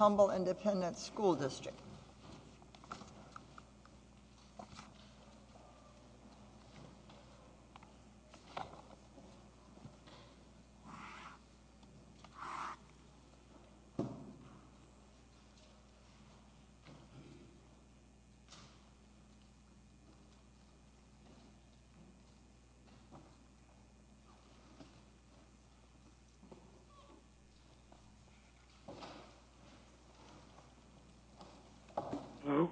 l District. School District. Mhm.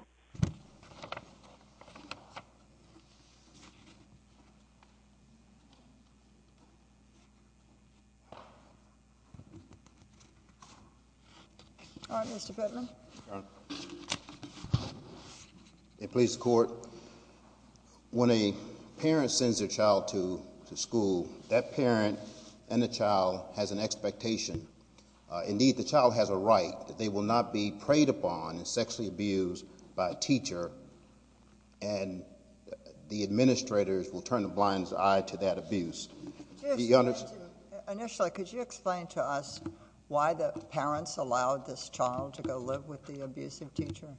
All right, Mr Pittman. It plays court. When a parent sends their child to school, that parent and the child has an expectation. Indeed, the child has a right that they will not be preyed upon and sexually abused by a teacher. And the administrators will turn a blind eye to that abuse. Initially, could you explain to us why the parents allowed this child to go live with the abusive teacher?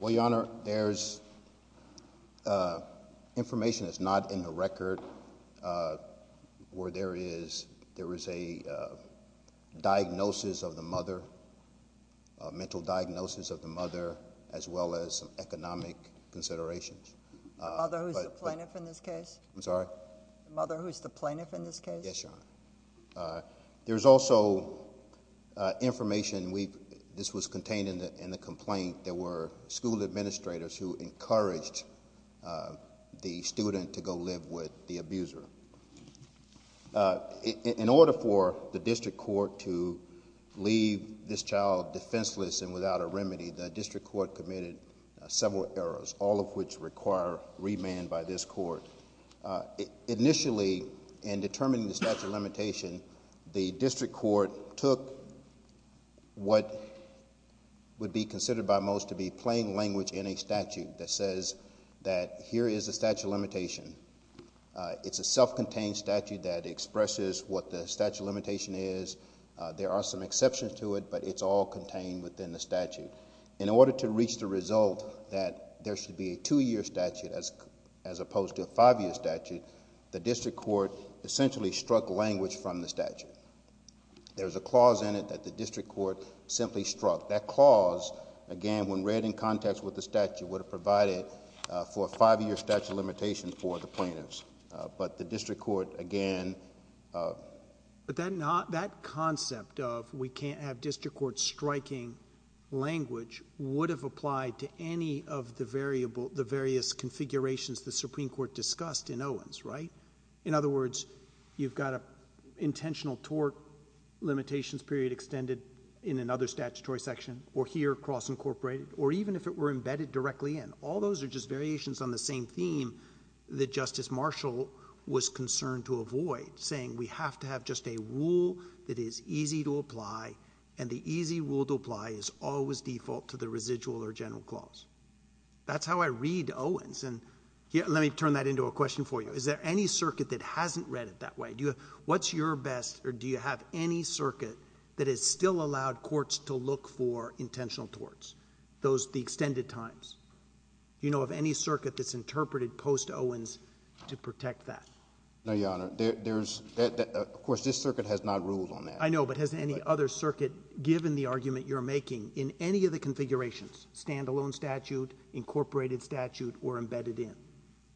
Well, Your Honor, there's information that's not in the record where there is, there is a diagnosis of the mother, mental diagnosis of the mother, as well as economic considerations. Mother, who's the plaintiff in this case? I'm sorry? Mother, who's the plaintiff in this case? Yes, Your Honor. There's also information we've, this was contained in the complaint. There were school administrators who encouraged the student to go live with the abuser. In order for the district court to leave this child defenseless and without a remedy, the district court committed several errors, all of which require remand by this court. Initially, in determining the statute of limitation, the district court took what would be considered by most to be plain language in a statute that says that here is a statute of limitation. It's a self-contained statute that expresses what the statute of limitation is. There are some exceptions to it, but it's all contained within the statute. In order to reach the result that there should be a two-year statute as opposed to a five-year statute, the district court essentially struck language from the statute. There's a clause in it that the district court simply struck. That clause, again, when read in context with the statute, would have provided for a five-year statute of limitation for the plaintiffs, but the district court, again... But that concept of we can't have district court striking language would have applied to any of the various configurations the Supreme Court discussed in Owens, right? In other words, you've got an intentional tort limitations period extended in another statutory section, or here cross-incorporated, or even if it were embedded directly in. All those are just variations on the same theme that Justice Marshall was concerned to avoid, saying we have to have just a rule that is easy to apply, and the easy rule to apply is always default to the residual or general clause. That's how I read Owens, and let me turn that into a question for you. Is there any circuit that hasn't read it that way? What's your best, or do you have any circuit that has still allowed courts to look for intentional torts, the extended times? Do you know of any circuit that's interpreted post-Owens to protect that? No, Your Honor. Of course, this circuit has not ruled on that. I know, but has any other circuit, given the argument you're making, in any of the configurations, standalone statute, incorporated statute, or embedded in?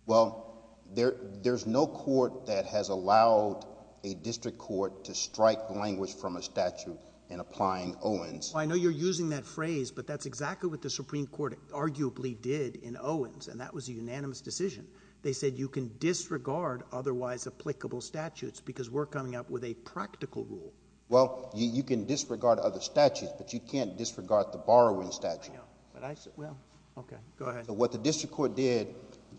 Well, there's no court that has allowed a district court to strike language from a statute in applying Owens. I know you're using that phrase, but that's exactly what the Supreme Court arguably did in Owens, and that was a unanimous decision. They said you can disregard otherwise applicable statutes because we're coming up with a practical rule. Well, you can disregard other statutes, but you can't disregard the borrowing statute. I know, but I... Well, okay, go ahead. What the district court did,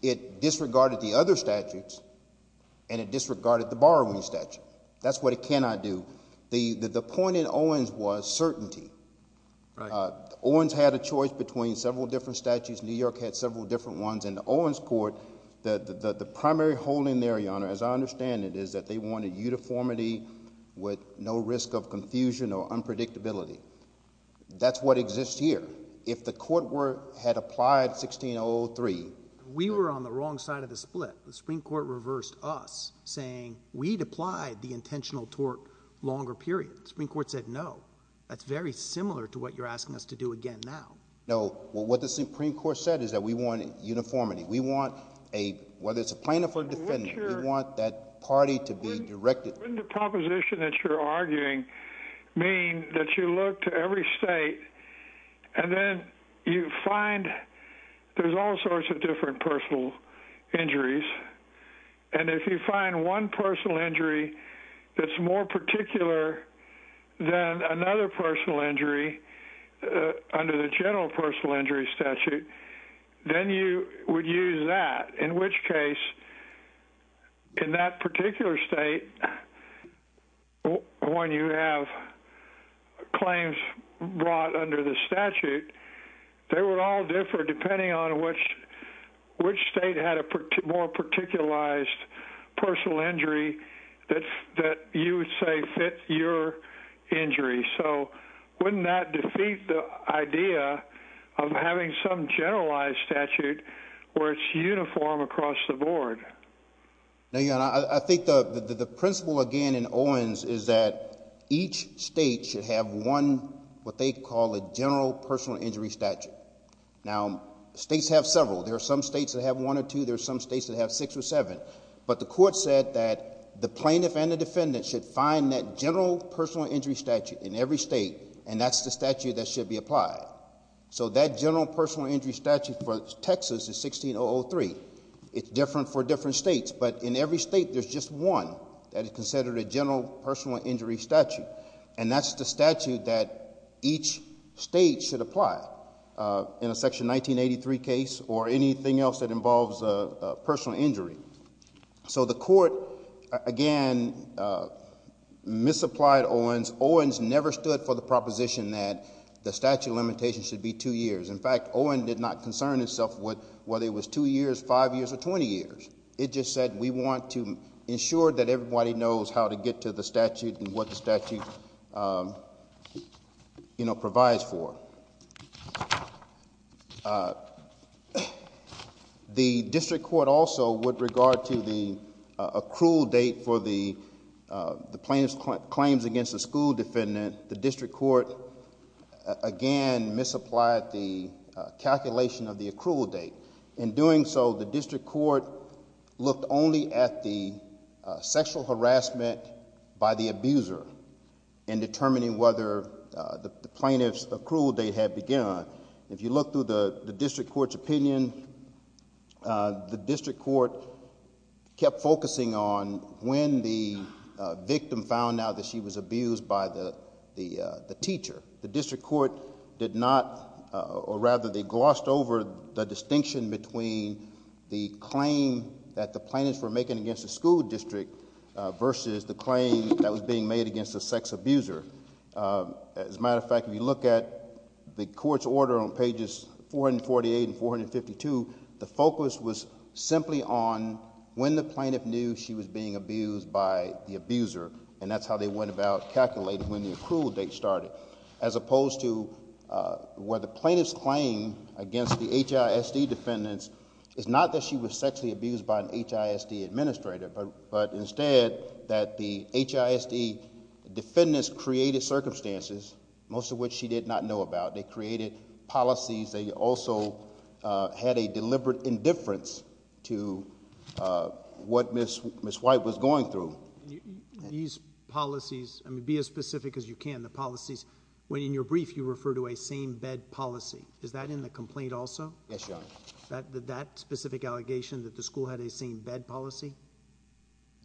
it disregarded the other statutes, and it disregarded the borrowing statute. That's what it cannot do. The point in Owens was certainty. Owens had a choice between several different statutes. New York had several different ones, and the Owens court, the primary hole in there, Your Honor, as I understand it, is that they wanted uniformity with no risk of confusion or unpredictability. That's what exists here. If the court had applied 16-0-3... We were on the wrong side of the split. The Supreme Court reversed us, saying we'd applied the intentional tort longer period. The Supreme Court said no. That's very similar to what you're asking us to do again now. No. Well, what the Supreme Court said is that we want uniformity. We want a, whether it's a plaintiff or defendant, we want that party to be directed. Wouldn't the proposition that you're arguing mean that you look to every state, and then you find there's all sorts of different personal injuries, and if you find one personal injury that's more particular than another personal injury under the general personal injury statute, then you would use that, in which case, in that particular state, when you have claims brought under the statute, they would all differ depending on which state had a more particularized personal injury that you would say fit your injury. So, wouldn't that defeat the idea of having some generalized statute where it's uniform across the board? No, Your Honor. I think the principle, again, in Owens is that each state should have one, what they call a general personal injury statute. Now, states have several. There are some states that have one or two. There are some states that have six or seven, but the court said that the plaintiff and the defendant should find that general personal injury statute in every state, and that's the statute that should be applied. So, that general personal injury statute for Texas is 16-003. It's different for different states, but in every state, there's just one that is considered a general personal injury statute, and that's the statute that each state should apply in a Section 1983 case or anything else that involves a personal injury. So, the court, again, misapplied Owens. Owens never stood for the proposition that the statute limitation should be two years. In fact, Owens did not concern himself with whether it was two years, five years, or 20 years. It just said, we want to ensure that everybody knows how to get to the date that the statute provides for. The district court also, with regard to the accrual date for the plaintiff's claims against the school defendant, the district court, again, misapplied the calculation of the accrual date. In doing so, the district court looked only at the sexual harassment by the plaintiff's accrual date had begun. If you look through the district court's opinion, the district court kept focusing on when the victim found out that she was abused by the teacher. The district court did not, or rather, they glossed over the distinction between the claim that the plaintiffs were making against the school district versus the claim that was being made against the sex abuser. As a matter of fact, if you look at the court's order on pages 448 and 452, the focus was simply on when the plaintiff knew she was being abused by the abuser, and that's how they went about calculating when the accrual date started, as opposed to where the plaintiff's claim against the HISD defendants is not that she was sexually abused by an HISD administrator, but instead that the HISD defendants created circumstances, most of which she did not know about. They created policies. They also had a deliberate indifference to what Ms. White was going through. These policies, I mean, be as specific as you can, the policies. When in your brief, you refer to a same bed policy. Is that in the complaint also? Yes, Your Honor. That specific allegation that the school had a same bed policy?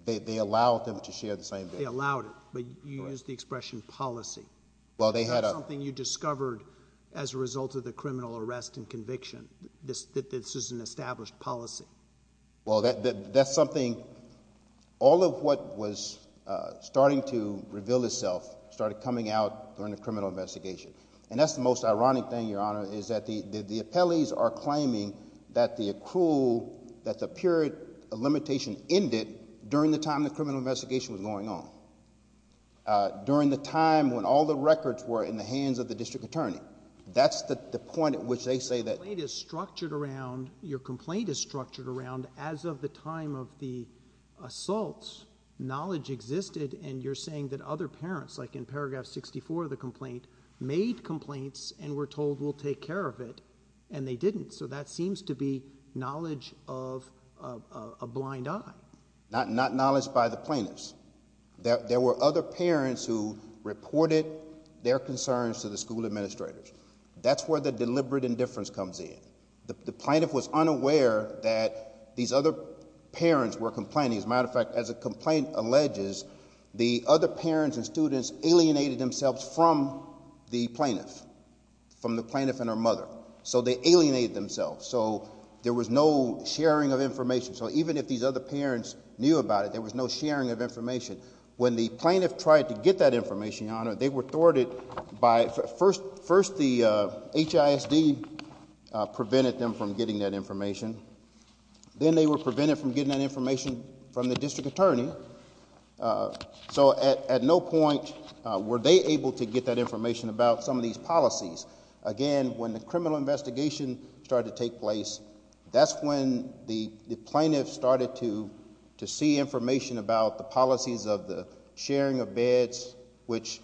They allowed them to share the same bed? They allowed it, but you used the expression policy. Well, they had a... That's something you discovered as a result of the criminal arrest and conviction, that this is an established policy. Well, that's something, all of what was starting to reveal itself started coming out during the criminal investigation. And that's the most ironic thing, Your Honor, is that the appellees are during the time the criminal investigation was going on, during the time when all the records were in the hands of the district attorney. That's the point at which they say that... Your complaint is structured around, as of the time of the assaults, knowledge existed and you're saying that other parents, like in paragraph 64 of the complaint, made complaints and were told we'll take care of it and they didn't. So that seems to be knowledge of a blind eye. Not knowledge by the plaintiffs. There were other parents who reported their concerns to the school administrators. That's where the deliberate indifference comes in. The plaintiff was unaware that these other parents were complaining. As a matter of fact, as the complaint alleges, the other parents and students alienated themselves from the plaintiff, from the plaintiff and her mother. So they alienated themselves. So there was no sharing of information. So even if these other parents knew about it, there was no sharing of information. When the plaintiff tried to get that information, Your Honor, they were thwarted by... First, the HISD prevented them from getting that information. Then they were prevented from getting that information from the district attorney. So at no point were they able to get that information about some of these policies. Again, when the criminal investigation started to take place, that's when the plaintiff started to see information about the policies of the sharing of beds, which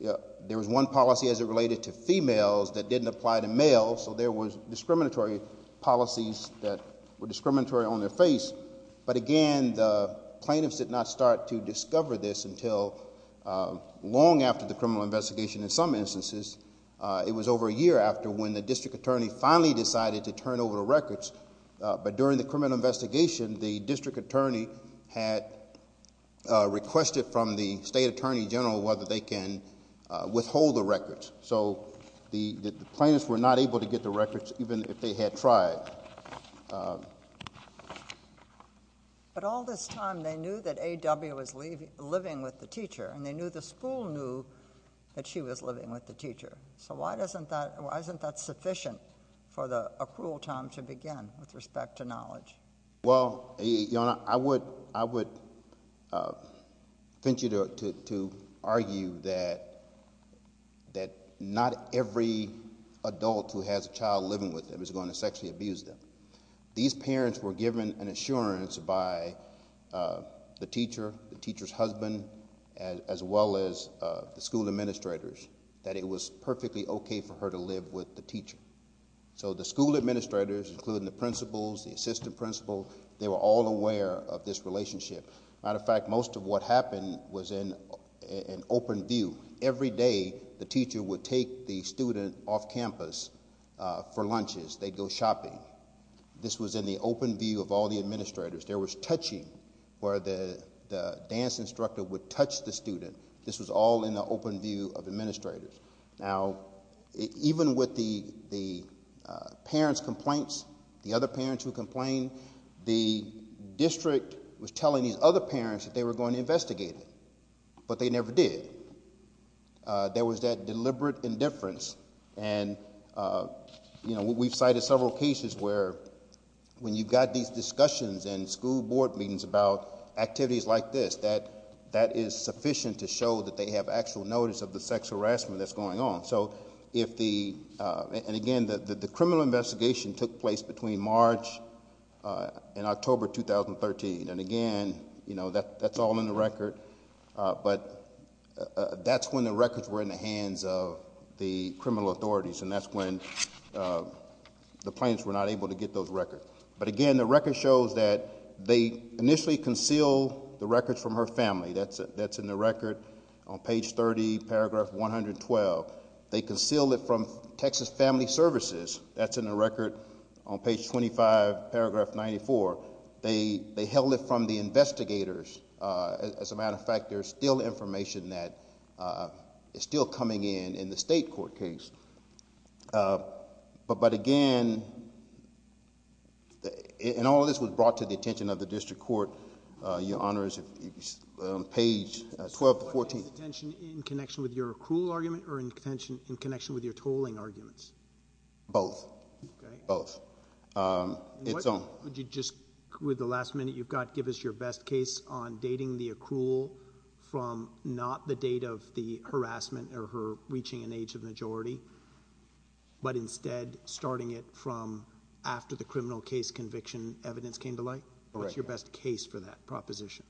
there was one policy as it related to females that didn't apply to males. So there was discriminatory policies that were discriminatory on their face. But again, the plaintiffs did not start to discover this until long after the criminal investigation. In some instances, it was over a year after when the district attorney finally decided to turn over the records. But during the criminal investigation, the district attorney had requested from the state attorney general whether they can withhold the records. So the plaintiffs were not able to get the records even if they had tried. But all this time, they knew that A.W. was living with the teacher and they knew the school knew that she was living with the teacher. So why isn't that sufficient for the accrual time to begin with respect to knowledge? Well, Your Honor, I would venture to argue that not every adult who has a child living with them is going to sexually abuse them. These parents were given an assurance by the teacher, the teacher's perfectly okay for her to live with the teacher. So the school administrators, including the principals, the assistant principal, they were all aware of this relationship. Matter of fact, most of what happened was in an open view. Every day, the teacher would take the student off campus for lunches. They'd go shopping. This was in the open view of all the administrators. There was touching where the dance instructor would touch the student. This was all in the open view of administrators. Now, even with the parents' complaints, the other parents who complained, the district was telling these other parents that they were going to investigate it, but they never did. There was that deliberate indifference. And we've cited several cases where when you've got these discussions and school board meetings about activities like this, that is sufficient to show that they have actual notice of the sexual harassment that's going on. So if the, and again, the criminal investigation took place between March and October, 2013. And again, that's all in the record, but that's when the records were in the hands of the criminal authorities. And that's when the plaintiffs were not able to get those records. But again, the record shows that they initially concealed the records from her family. That's in the record on page 30, paragraph 112. They concealed it from Texas Family Services. That's in the record on page 25, paragraph 94. They held it from the investigators. As a matter of fact, there's still information that is still coming in, in the state court case. But again, and all of this was brought to the attention of the plaintiffs on page 12 to 14. Is this brought to the attention in connection with your accrual argument or in connection with your tolling arguments? Both. Both. It's on. Would you just, with the last minute you've got, give us your best case on dating the accrual from not the date of the harassment or her reaching an age of majority, but instead starting it from after the criminal case conviction evidence came to light? What's your best case for that proposition?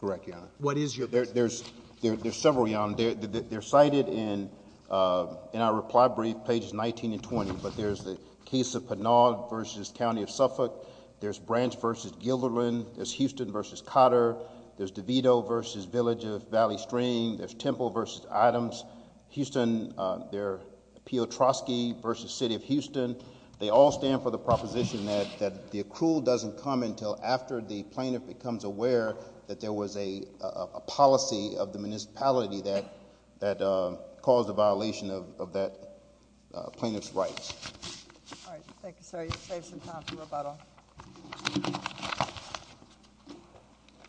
Correct, Your Honor. What is your best case? There's several, Your Honor. They're cited in our reply brief, pages 19 and 20, but there's the case of Pinnaud versus County of Suffolk. There's Branch versus Guilderland. There's Houston versus Cotter. There's DeVito versus Village of Valley Stream. There's Temple versus Items. Houston, they're Piotrowski versus City of Houston. They all stand for the proposition that the accrual doesn't come until after the plaintiff becomes aware that there was a policy of the municipality that caused a violation of that plaintiff's rights. All right. Thank you, sir. You've saved some time for rebuttal.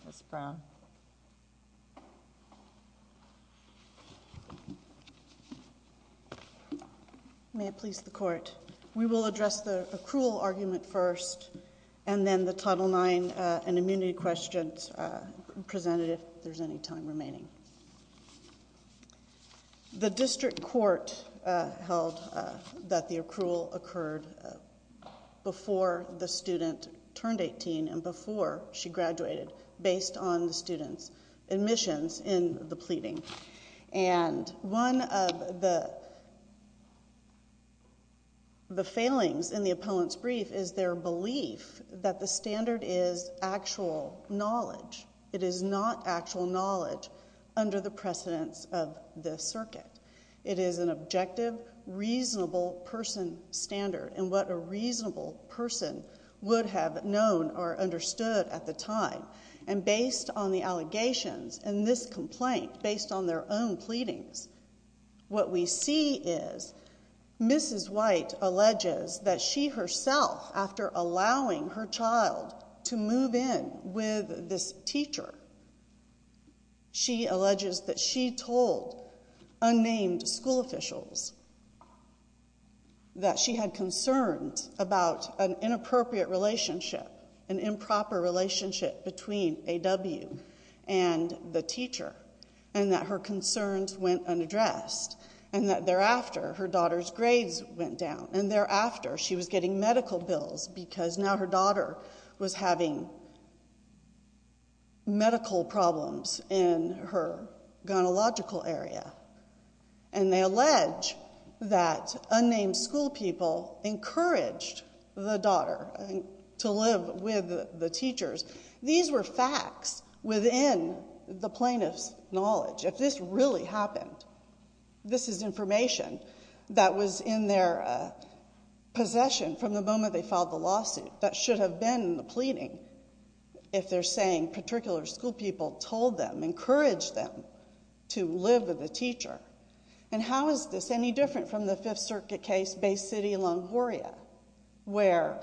Ms. Brown. May it please the court. We will address the accrual argument first and then the Title IX and immunity questions presented if there's any time remaining. The district court held that the accrual occurred before the student turned 18 and before she graduated based on the student's admissions in the pleading. And one of the failings in the opponent's brief is their belief that the standard is actual knowledge. It is not actual knowledge under the precedence of the circuit. It is an objective, reasonable person standard and what a reasonable person would have known or understood at the time. And based on the allegations and this complaint, based on their own pleadings, what we see is Mrs. White alleges that she herself, after allowing her child to move in with this teacher, she alleges that she told unnamed school officials that she had concerns about an inappropriate relationship, an improper relationship between A.W. and the teacher and that her concerns went unaddressed and that thereafter her daughter's grades went down and thereafter she was getting medical bills because now her daughter was having medical problems in her gynecological area. And they allege that unnamed school people encouraged the daughter, to live with the teachers. These were facts within the plaintiff's knowledge. If this really happened, this is information that was in their possession from the moment they filed the lawsuit that should have been in the pleading if they're saying particular school people told them, encouraged them to live with the teacher. And how is this any different from the Fifth Circuit case, Bay City, Longoria, where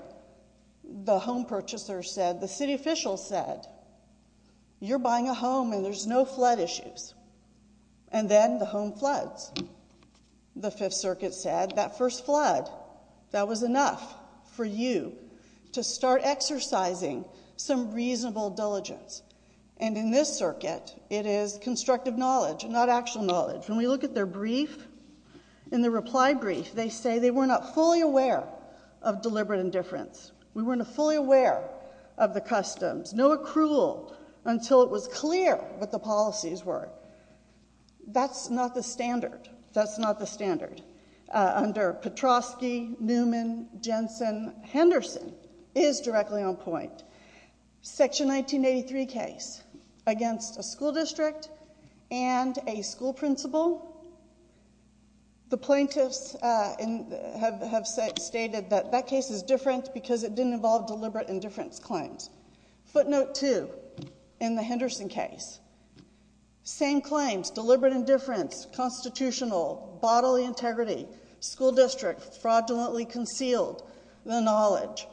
the home purchaser said, the city official said, you're buying a home and there's no flood issues. And then the home floods. The Fifth Circuit said that first flood, that was enough for you to start exercising some reasonable diligence. And in this circuit, it is constructive knowledge, not actual knowledge. When we look at their brief, in the reply brief, they say they were not fully aware of deliberate indifference. We weren't fully aware of the customs, no accrual until it was clear what the policies were. That's not the standard. That's not the standard. Under Petrosky, Newman, Jensen, Henderson is directly on point. Section 1983 case against a school district and a school principal. The plaintiffs have stated that that case is different because it didn't involve deliberate indifference claims. Footnote two in the Henderson case. Same claims, deliberate indifference, constitutional, bodily integrity, school district, fraudulently concealed the knowledge.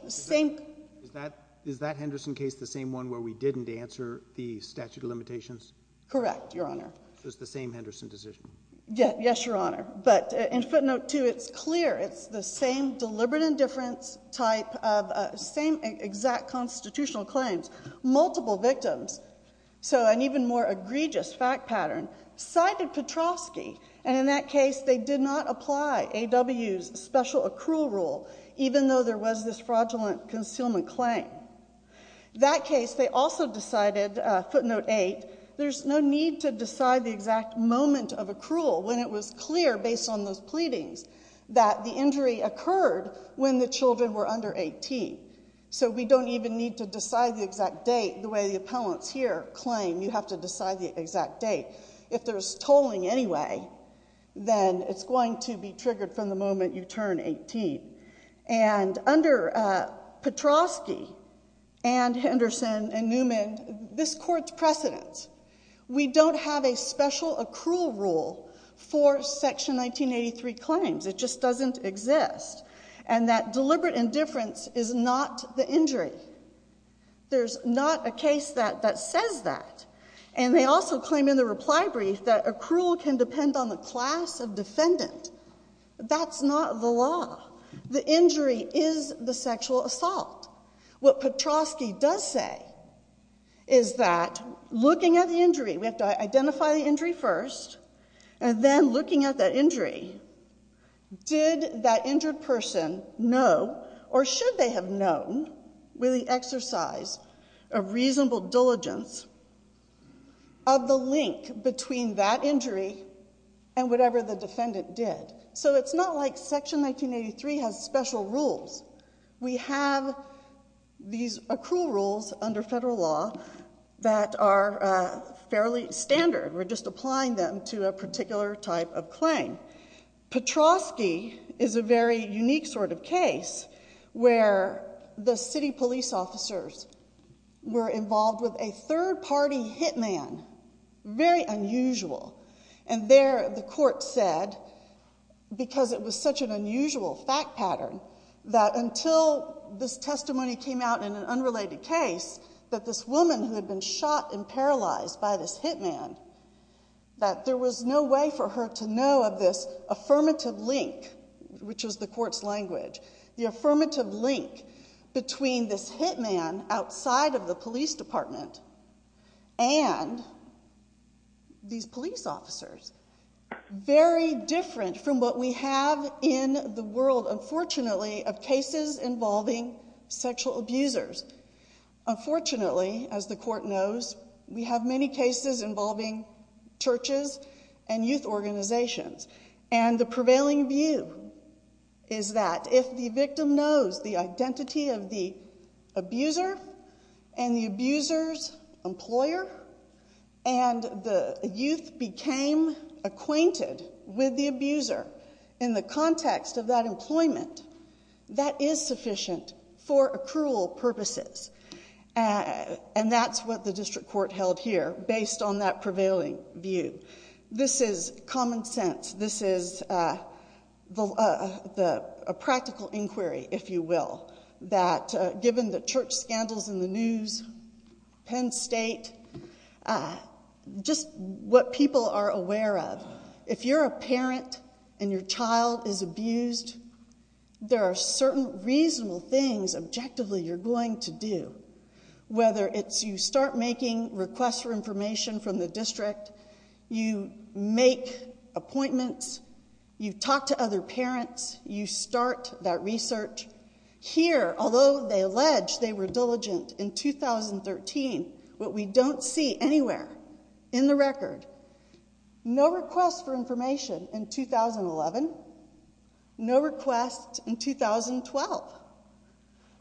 Is that Henderson case the same one where we didn't answer the statute of limitations? Correct, Your Honor. So it's the same Henderson decision? Yes, Your Honor. But in footnote two, it's clear. It's the same deliberate indifference type of same exact constitutional claims, multiple victims. So an even more egregious fact pattern cited Petrosky. And in that case, they did not apply AW's special accrual rule, even though there was this fraudulent concealment claim. That case, they also decided, footnote eight. There's no need to decide the exact moment of accrual when it was clear based on those pleadings that the injury occurred when the children were under 18. So we don't even need to decide the exact date the way the appellants here claim. You have to decide the exact date. If there's tolling anyway, then it's going to be triggered from the moment you turn 18. And under Petrosky and Henderson and Newman, this court's precedent. We don't have a special accrual rule for section 1983 claims. It just doesn't exist. And that deliberate indifference is not the injury. There's not a case that says that. And they also claim in the reply brief that accrual can depend on the class of defendant. That's not the law. The injury is the sexual assault. What Petrosky does say is that looking at the injury, we have to identify the injury first, and then looking at that injury, did that injured person know or should they have known, with the exercise of reasonable diligence, of the link between that injury and whatever the defendant did. So it's not like section 1983 has special rules. We have these accrual rules under federal law that are fairly standard. We're just applying them to a particular type of claim. Petrosky is a very unique sort of case where the city police officers were involved with a third-party hitman. Very unusual. And there the court said, because it was such an unusual fact pattern, that until this testimony came out in an unrelated case, that this woman who had been shot and paralyzed by this hitman, that there was no way for her to know of this affirmative link, which is the court's language, the affirmative link between this hitman outside of the police department and these police officers, very different from what we have in the world, unfortunately, of cases involving sexual abusers. Unfortunately, as the court knows, we have many cases involving churches and youth organizations, and the prevailing view is that if the victim knows the identity of the abuser and the abuser's employer, and the youth became acquainted with the abuser in the context of that employment, that is sufficient for accrual purposes. And that's what the district court held here based on that prevailing view. This is common sense. This is a practical inquiry, if you will, that given the church scandals in the news, Penn State, just what people are aware of, if you're a parent and your child is abused, there are certain reasonable things objectively you're going to do, whether it's you start making requests for information from the parents, you talk to other parents, you start that research. Here, although they allege they were diligent in 2013, what we don't see anywhere in the record, no requests for information in 2011, no requests in 2012,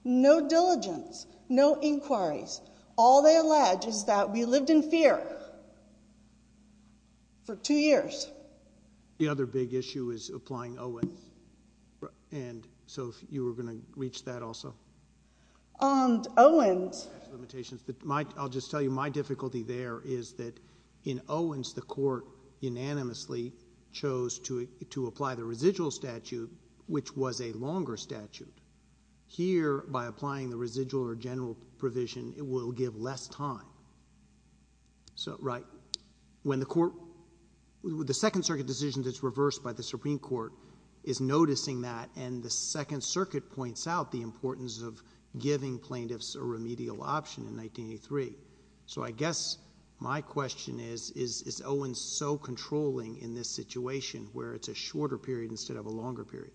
no diligence, no inquiries. All they allege is that we lived in fear for two years. The other big issue is applying Owens. And so if you were going to reach that also. Owens. I'll just tell you my difficulty there is that in Owens, the court unanimously chose to apply the residual statute, which was a longer statute. Here, by applying the residual or general provision, it will give less time. So, right, when the court, the Second Circuit decision that's reversed by the Supreme Court is noticing that and the Second Circuit points out the importance of giving plaintiffs a remedial option in 1983. So I guess my question is, is Owens so controlling in this situation where it's a shorter period instead of a longer period?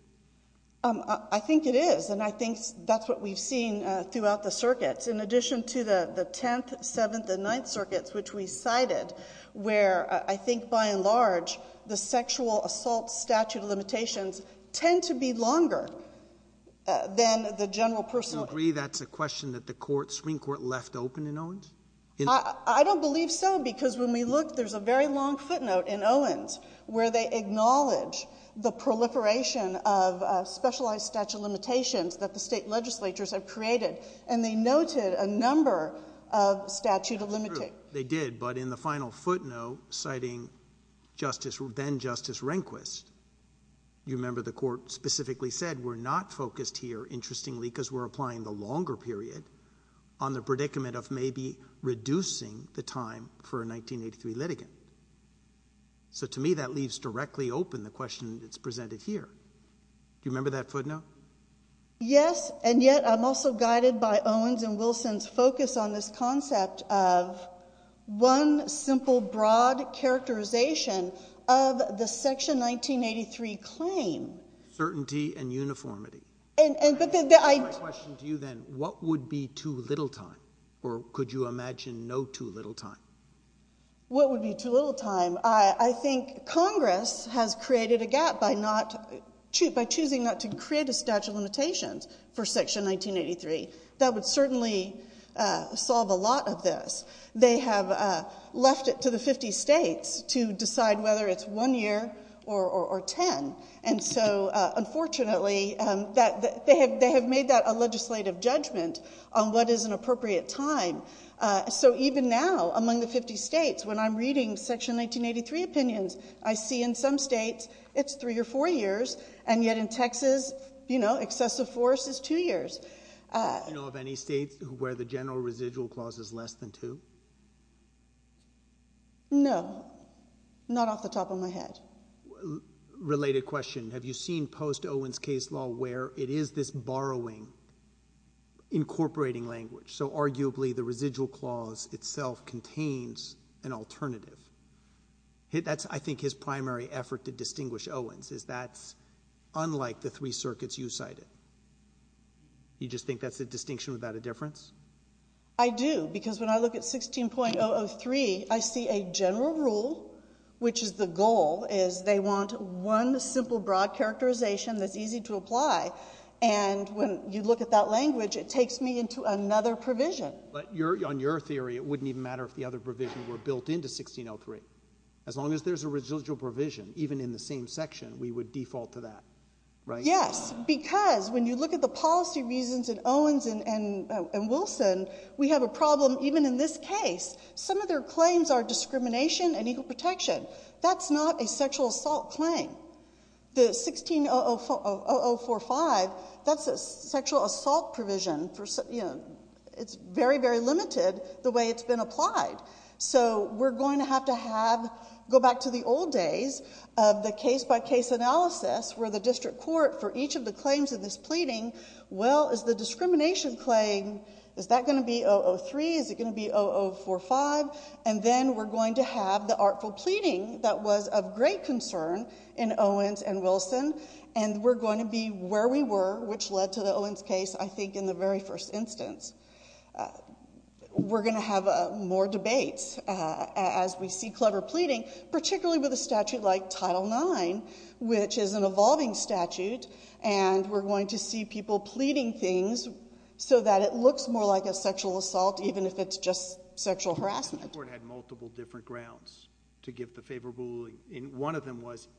I think it is. And I think that's what we've seen throughout the circuits. In addition to the 10th, 7th, and 9th circuits, which we cited, where I think by and large, the sexual assault statute limitations tend to be longer than the general personal. Do you agree that's a question that the Supreme Court left open in Owens? I don't believe so. Because when we look, there's a very long footnote in Owens where they acknowledge the proliferation of specialized statute limitations that the state legislatures have created. And they noted a number of statute of limitations. True, they did. But in the final footnote citing Justice, then Justice Rehnquist, you remember the court specifically said, we're not focused here, interestingly, because we're applying the longer period on the predicament of maybe reducing the time for a 1983 litigant. So to me, that leaves directly open the question that's presented here. Do you remember that footnote? Yes. And yet I'm also guided by Owens and Wilson's focus on this concept of one simple, broad characterization of the section 1983 claim. Certainty and uniformity. And, but then I. My question to you then, what would be too little time? Or could you imagine no too little time? What would be too little time? I think Congress has created a gap by not, by choosing not to create a statute of limitations for section 1983. That would certainly solve a lot of this. They have left it to the 50 states to decide whether it's one year or 10. And so unfortunately that they have, they have made that a legislative judgment on what is an appropriate time. So even now among the 50 states, when I'm reading section 1983 opinions, I don't know. Excessive force is two years. Do you know of any states where the general residual clause is less than two? No, not off the top of my head. Related question. Have you seen post Owens case law where it is this borrowing incorporating language? So arguably the residual clause itself contains an alternative. That's I think his primary effort to distinguish Owens is that's unlike the three circuits you cited. You just think that's a distinction without a difference? I do because when I look at 16.003, I see a general rule, which is the goal is they want one simple broad characterization that's easy to apply. And when you look at that language, it takes me into another provision. But you're on your theory. It wouldn't even matter if the other provision were built into 1603. As long as there's a residual provision, even in the same section, we would default to that, right? Yes, because when you look at the policy reasons in Owens and Wilson, we have a problem even in this case. Some of their claims are discrimination and equal protection. That's not a sexual assault claim. The 16.0045, that's a sexual assault provision for, you know, it's very, very limited the way it's been applied. So we're going to have to have, go back to the old days of the case by case analysis where the district court for each of the claims in this pleading, well, is the discrimination claim, is that going to be 003? Is it going to be 0045? And then we're going to have the artful pleading that was of great concern in Owens and Wilson, and we're going to be where we were, which led to the Owens case, I think in the very first instance. We're going to have more debates as we see clever pleading, particularly with a statute like Title IX, which is an evolving statute, and we're going to see people pleading things so that it looks more like a sexual assault, even if it's just sexual harassment. The court had multiple different grounds to give the favorable ruling, and one of them was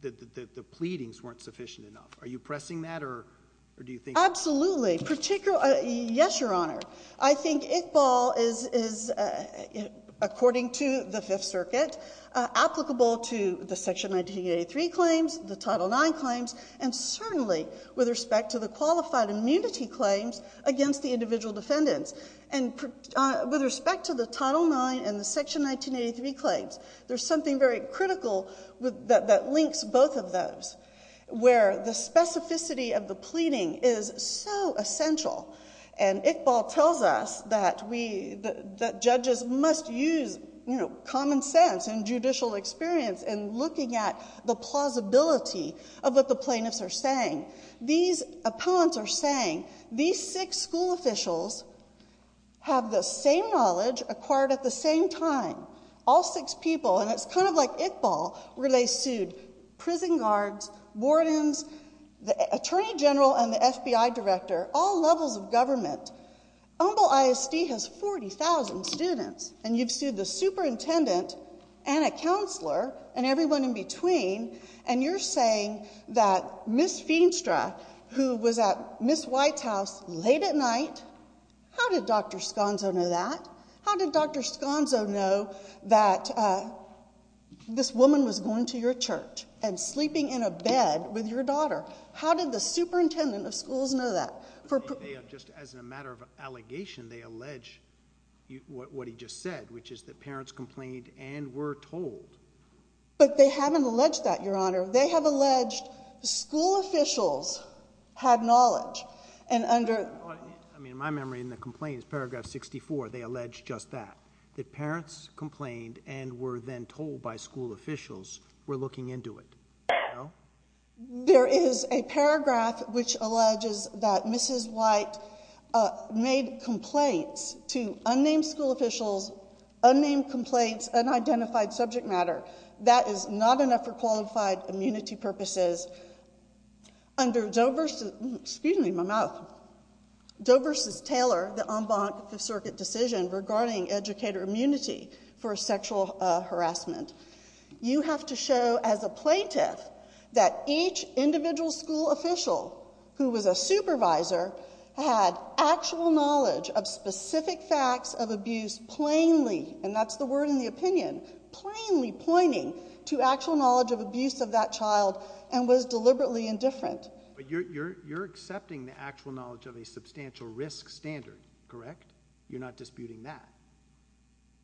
that the pleadings weren't sufficient enough. Are you pressing that or do you think... Absolutely. Particularly, yes, Your Honor. I think Iqbal is, according to the Fifth Circuit, applicable to the Section 1983 claims, the Title IX claims, and certainly with respect to the qualified immunity claims against the individual defendants. And with respect to the Title IX and the Section 1983 claims, there's something very critical that links both of those, where the specificity of the pleading is so essential, and Iqbal tells us that we, that judges must use, you know, common sense and judicial experience in looking at the plausibility of what the plaintiffs are saying. These opponents are saying, these six school officials have the same knowledge acquired at the same time. All six people, and it's kind of like Iqbal, where they sued prison guards, wardens, the attorney general and the FBI director, all levels of government. Humboldt ISD has 40,000 students, and you've sued the superintendent and a counselor and everyone in between, and you're saying that Ms. Feenstra, who was at Ms. White's house late at night, how did Dr. Sconzo know that? How did Dr. Sconzo know that this woman was going to your church and sleeping in a bed with your daughter? How did the superintendent of schools know that? They have, just as a matter of allegation, they allege what he just said, which is that parents complained and were told. But they haven't alleged that, Your Honor. They have alleged school officials had knowledge, and under... I mean, in my memory, in the complaints, paragraph 64, they allege just that, that parents complained and were then told by school officials were looking into it. There is a paragraph which alleges that Mrs. White made complaints to unnamed school officials, unnamed complaints, unidentified subject matter. That is not enough for qualified immunity purposes. Under Doe versus, excuse me, my mouth, Doe versus Taylor, the en banc Fifth Circuit decision regarding educator immunity for sexual harassment. You have to show as a plaintiff that each individual school official who was a supervisor had actual knowledge of specific facts of abuse plainly, and that's the word in the opinion, plainly pointing to actual knowledge of abuse of that child and was deliberately indifferent. But you're, you're, you're accepting the actual knowledge of a substantial risk standard, correct? You're not disputing that,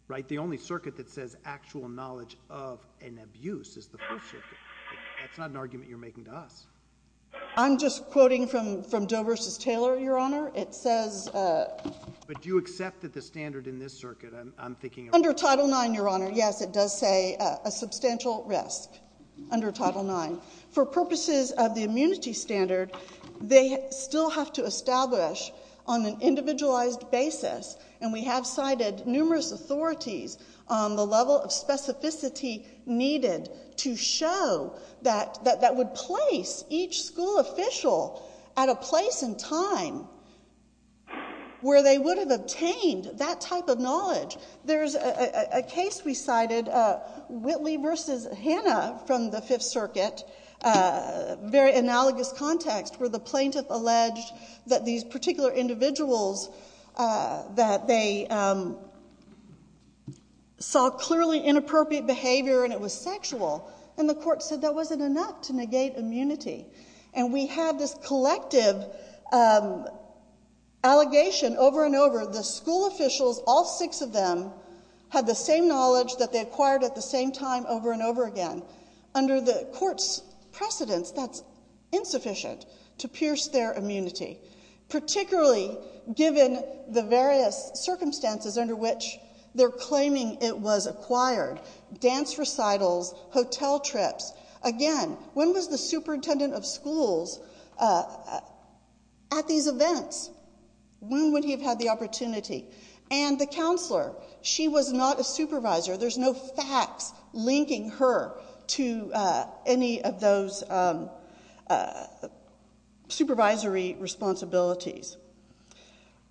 right? But the only circuit that says actual knowledge of an abuse is the Fifth Circuit. That's not an argument you're making to us. I'm just quoting from, from Doe versus Taylor, Your Honor. It says... But do you accept that the standard in this circuit, I'm thinking... Under Title IX, Your Honor. Yes, it does say a substantial risk under Title IX. For purposes of the immunity standard, they still have to establish on an the level of specificity needed to show that, that, that would place each school official at a place in time where they would have obtained that type of knowledge. There's a case we cited, Whitley versus Hanna from the Fifth Circuit, very analogous context, where the plaintiff alleged that these particular individuals, that they saw clearly inappropriate behavior and it was sexual. And the court said that wasn't enough to negate immunity. And we have this collective allegation over and over, the school officials, all six of them, had the same knowledge that they acquired at the same time over and over again. Under the court's precedence, that's insufficient to pierce their immunity. Particularly given the various circumstances under which they're claiming it was acquired. Dance recitals, hotel trips. Again, when was the superintendent of schools at these events? When would he have had the opportunity? And the counselor, she was not a supervisor. There's no facts linking her to any of those supervisory responsibilities.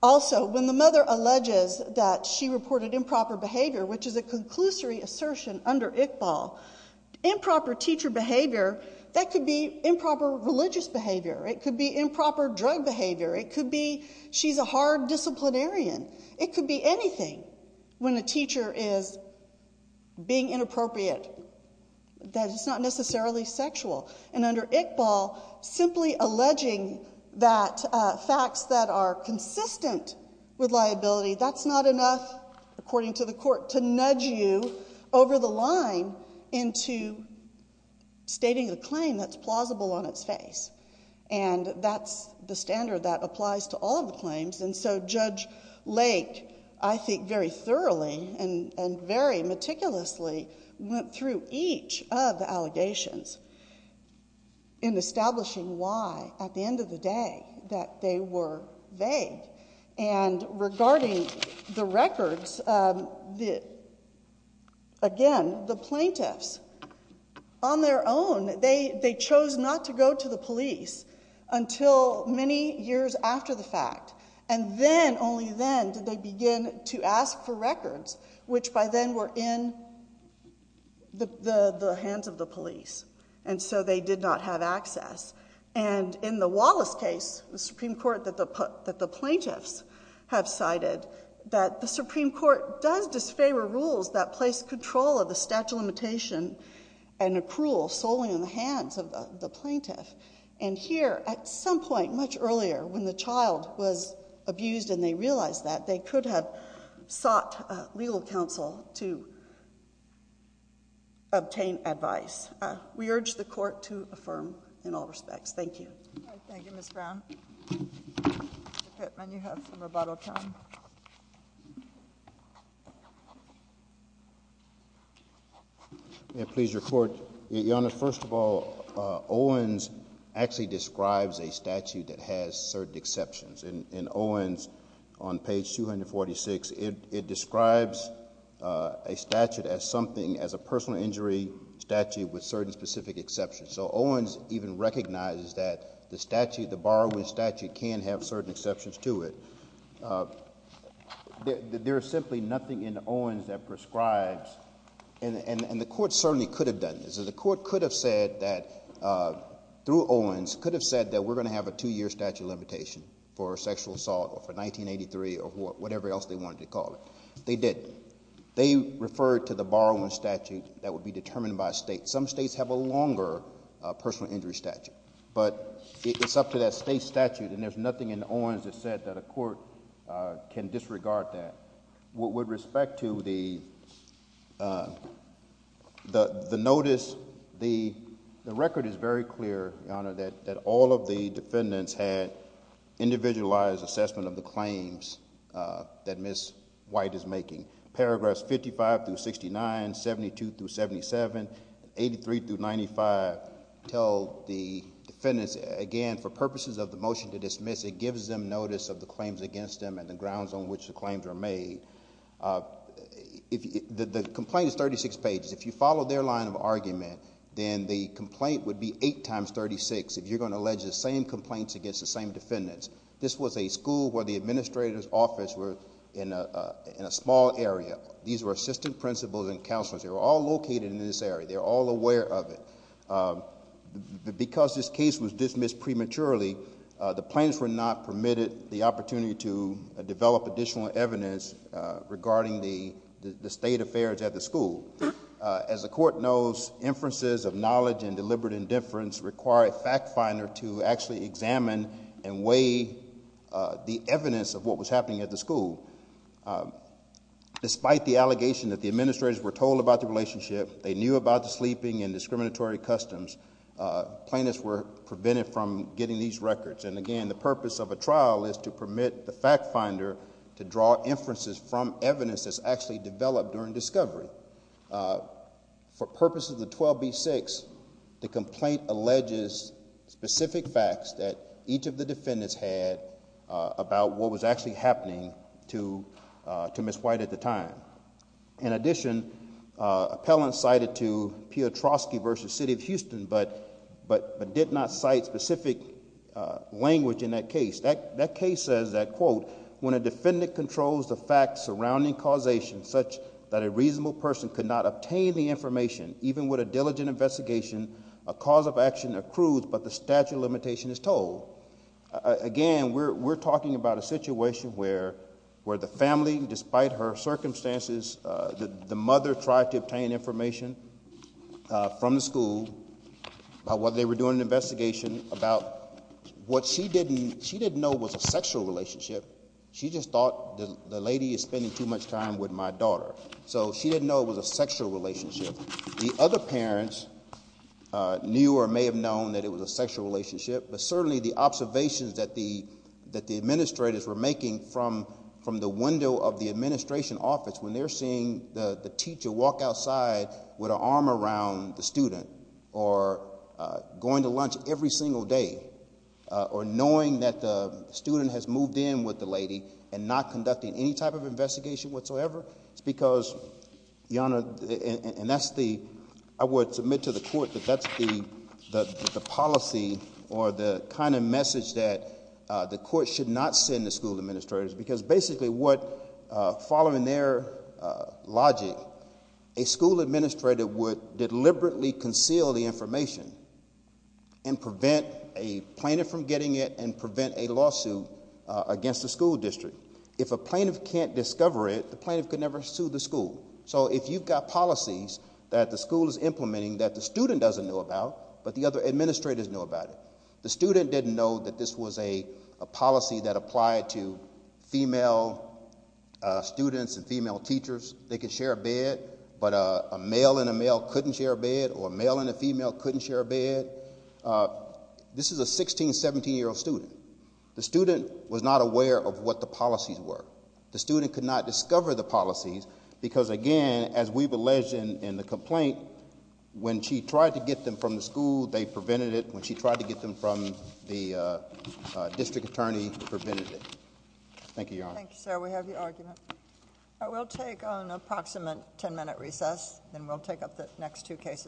Also, when the mother alleges that she reported improper behavior, which is a conclusory assertion under Iqbal, improper teacher behavior, that could be improper religious behavior. It could be improper drug behavior. It could be she's a hard disciplinarian. It could be anything. When a teacher is being inappropriate, that it's not necessarily sexual. And under Iqbal, simply alleging that facts that are consistent with liability, that's not enough, according to the court, to nudge you over the line into stating the claim that's plausible on its face. And that's the standard that applies to all of the claims. And so Judge Lake, I think very thoroughly and very meticulously went through each of the allegations in establishing why, at the end of the day, that they were vague. And regarding the records, again, the plaintiffs on their own, they chose not to go to the police until many years after the fact. And then, only then, did they begin to ask for records, which by then were in the hands of the police. And so they did not have access. And in the Wallace case, the Supreme Court that the plaintiffs have cited, that the Supreme Court does disfavor rules that place control of the statute of limitation and accrual solely in the hands of the plaintiff. And here, at some point, much earlier, when the child was abused and they realized that, they could have sought legal counsel to obtain advice. We urge the court to affirm in all respects. Thank you. Thank you, Ms. Brown. Mr. Pittman, you have some rebuttal time. May I please report? Your Honor, first of all, Owens actually describes a statute that has certain exceptions. In Owens, on page 246, it describes a statute as something, as a personal injury statute with certain specific exceptions. So Owens even recognizes that the statute, the borrowing statute, can have certain exceptions to it. There is simply nothing in Owens that prescribes. And the court certainly could have done this. The court could have said that, through Owens, could have said that we're going to have a two-year statute of limitation for sexual assault or for 1983 or whatever else they wanted to call it. They didn't. They referred to the borrowing statute that would be determined by state. Some states have a longer personal injury statute. But it's up to that state statute. And there's nothing in Owens that said that a court can disregard that. With respect to the notice, the record is very clear, Your Honor, that all of the defendants had individualized assessment of the claims that Ms. White is making. Paragraphs 55 through 69, 72 through 77, 83 through 95, tell the defendants, again, for purposes of the motion to dismiss, it gives them notice of the claims against them and the grounds on which the claims are made. The complaint is 36 pages. If you follow their line of argument, then the complaint would be eight times 36 if you're going to allege the same complaints against the same defendants. This was a school where the administrator's office were in a small area. These were assistant principals and counselors. They were all located in this area. They're all aware of it. Because this case was dismissed prematurely, the plaintiffs were not permitted the opportunity to develop additional evidence regarding the state affairs at the school. As the court knows, inferences of knowledge and deliberate indifference require a fact finder to actually examine and weigh the evidence of what was happening at the school. Despite the allegation that the administrators were told about the plaintiffs were prevented from getting these records. And again, the purpose of a trial is to permit the fact finder to draw inferences from evidence that's actually developed during discovery. For purposes of the 12B6, the complaint alleges specific facts that each of the defendants had about what was actually happening to Ms. White at the time. In addition, appellant cited to Piotrowski versus City of Houston, but did not cite specific language in that case. That case says that, quote, when a defendant controls the facts surrounding causation such that a reasonable person could not obtain the information, even with a diligent investigation, a cause of action accrues, but the statute of limitation is told. Again, we're talking about a situation where the family, despite her circumstances, the mother tried to obtain information from the school about what they were doing, an investigation about what she didn't know was a sexual relationship. She just thought the lady is spending too much time with my daughter. So she didn't know it was a sexual relationship. The other parents knew or may have known that it was a sexual relationship, but certainly the observations that the administrators were making from the window of the administration office, when they're seeing the teacher walk outside with an arm around the student or going to lunch every single day or knowing that the student has moved in with the lady and not conducting any type of investigation whatsoever. It's because, Your Honor, and that's the, I would submit to the court that that's the policy or the kind of message that the court should not send to school administrators because basically what, following their logic, a school administrator would deliberately conceal the information and prevent a plaintiff from getting it and prevent a lawsuit against the school district. If a plaintiff can't discover it, the plaintiff could never sue the school. So if you've got policies that the school is implementing that the student doesn't know about, but the other administrators know about it, the student didn't know that this was a policy that applied to female students and female teachers, they could share a bed, but a male and a male couldn't share a bed or a male and a female couldn't share a bed. This is a 16, 17 year old student. The student was not aware of what the policies were. The student could not discover the policies because again, as we've alleged in the complaint, when she tried to get them from the school, they prevented it. When she tried to get them from the district attorney, it prevented it. Thank you, Your Honor. Thank you, sir. We have your argument. I will take an approximate 10 minute recess and we'll take up the next two cases.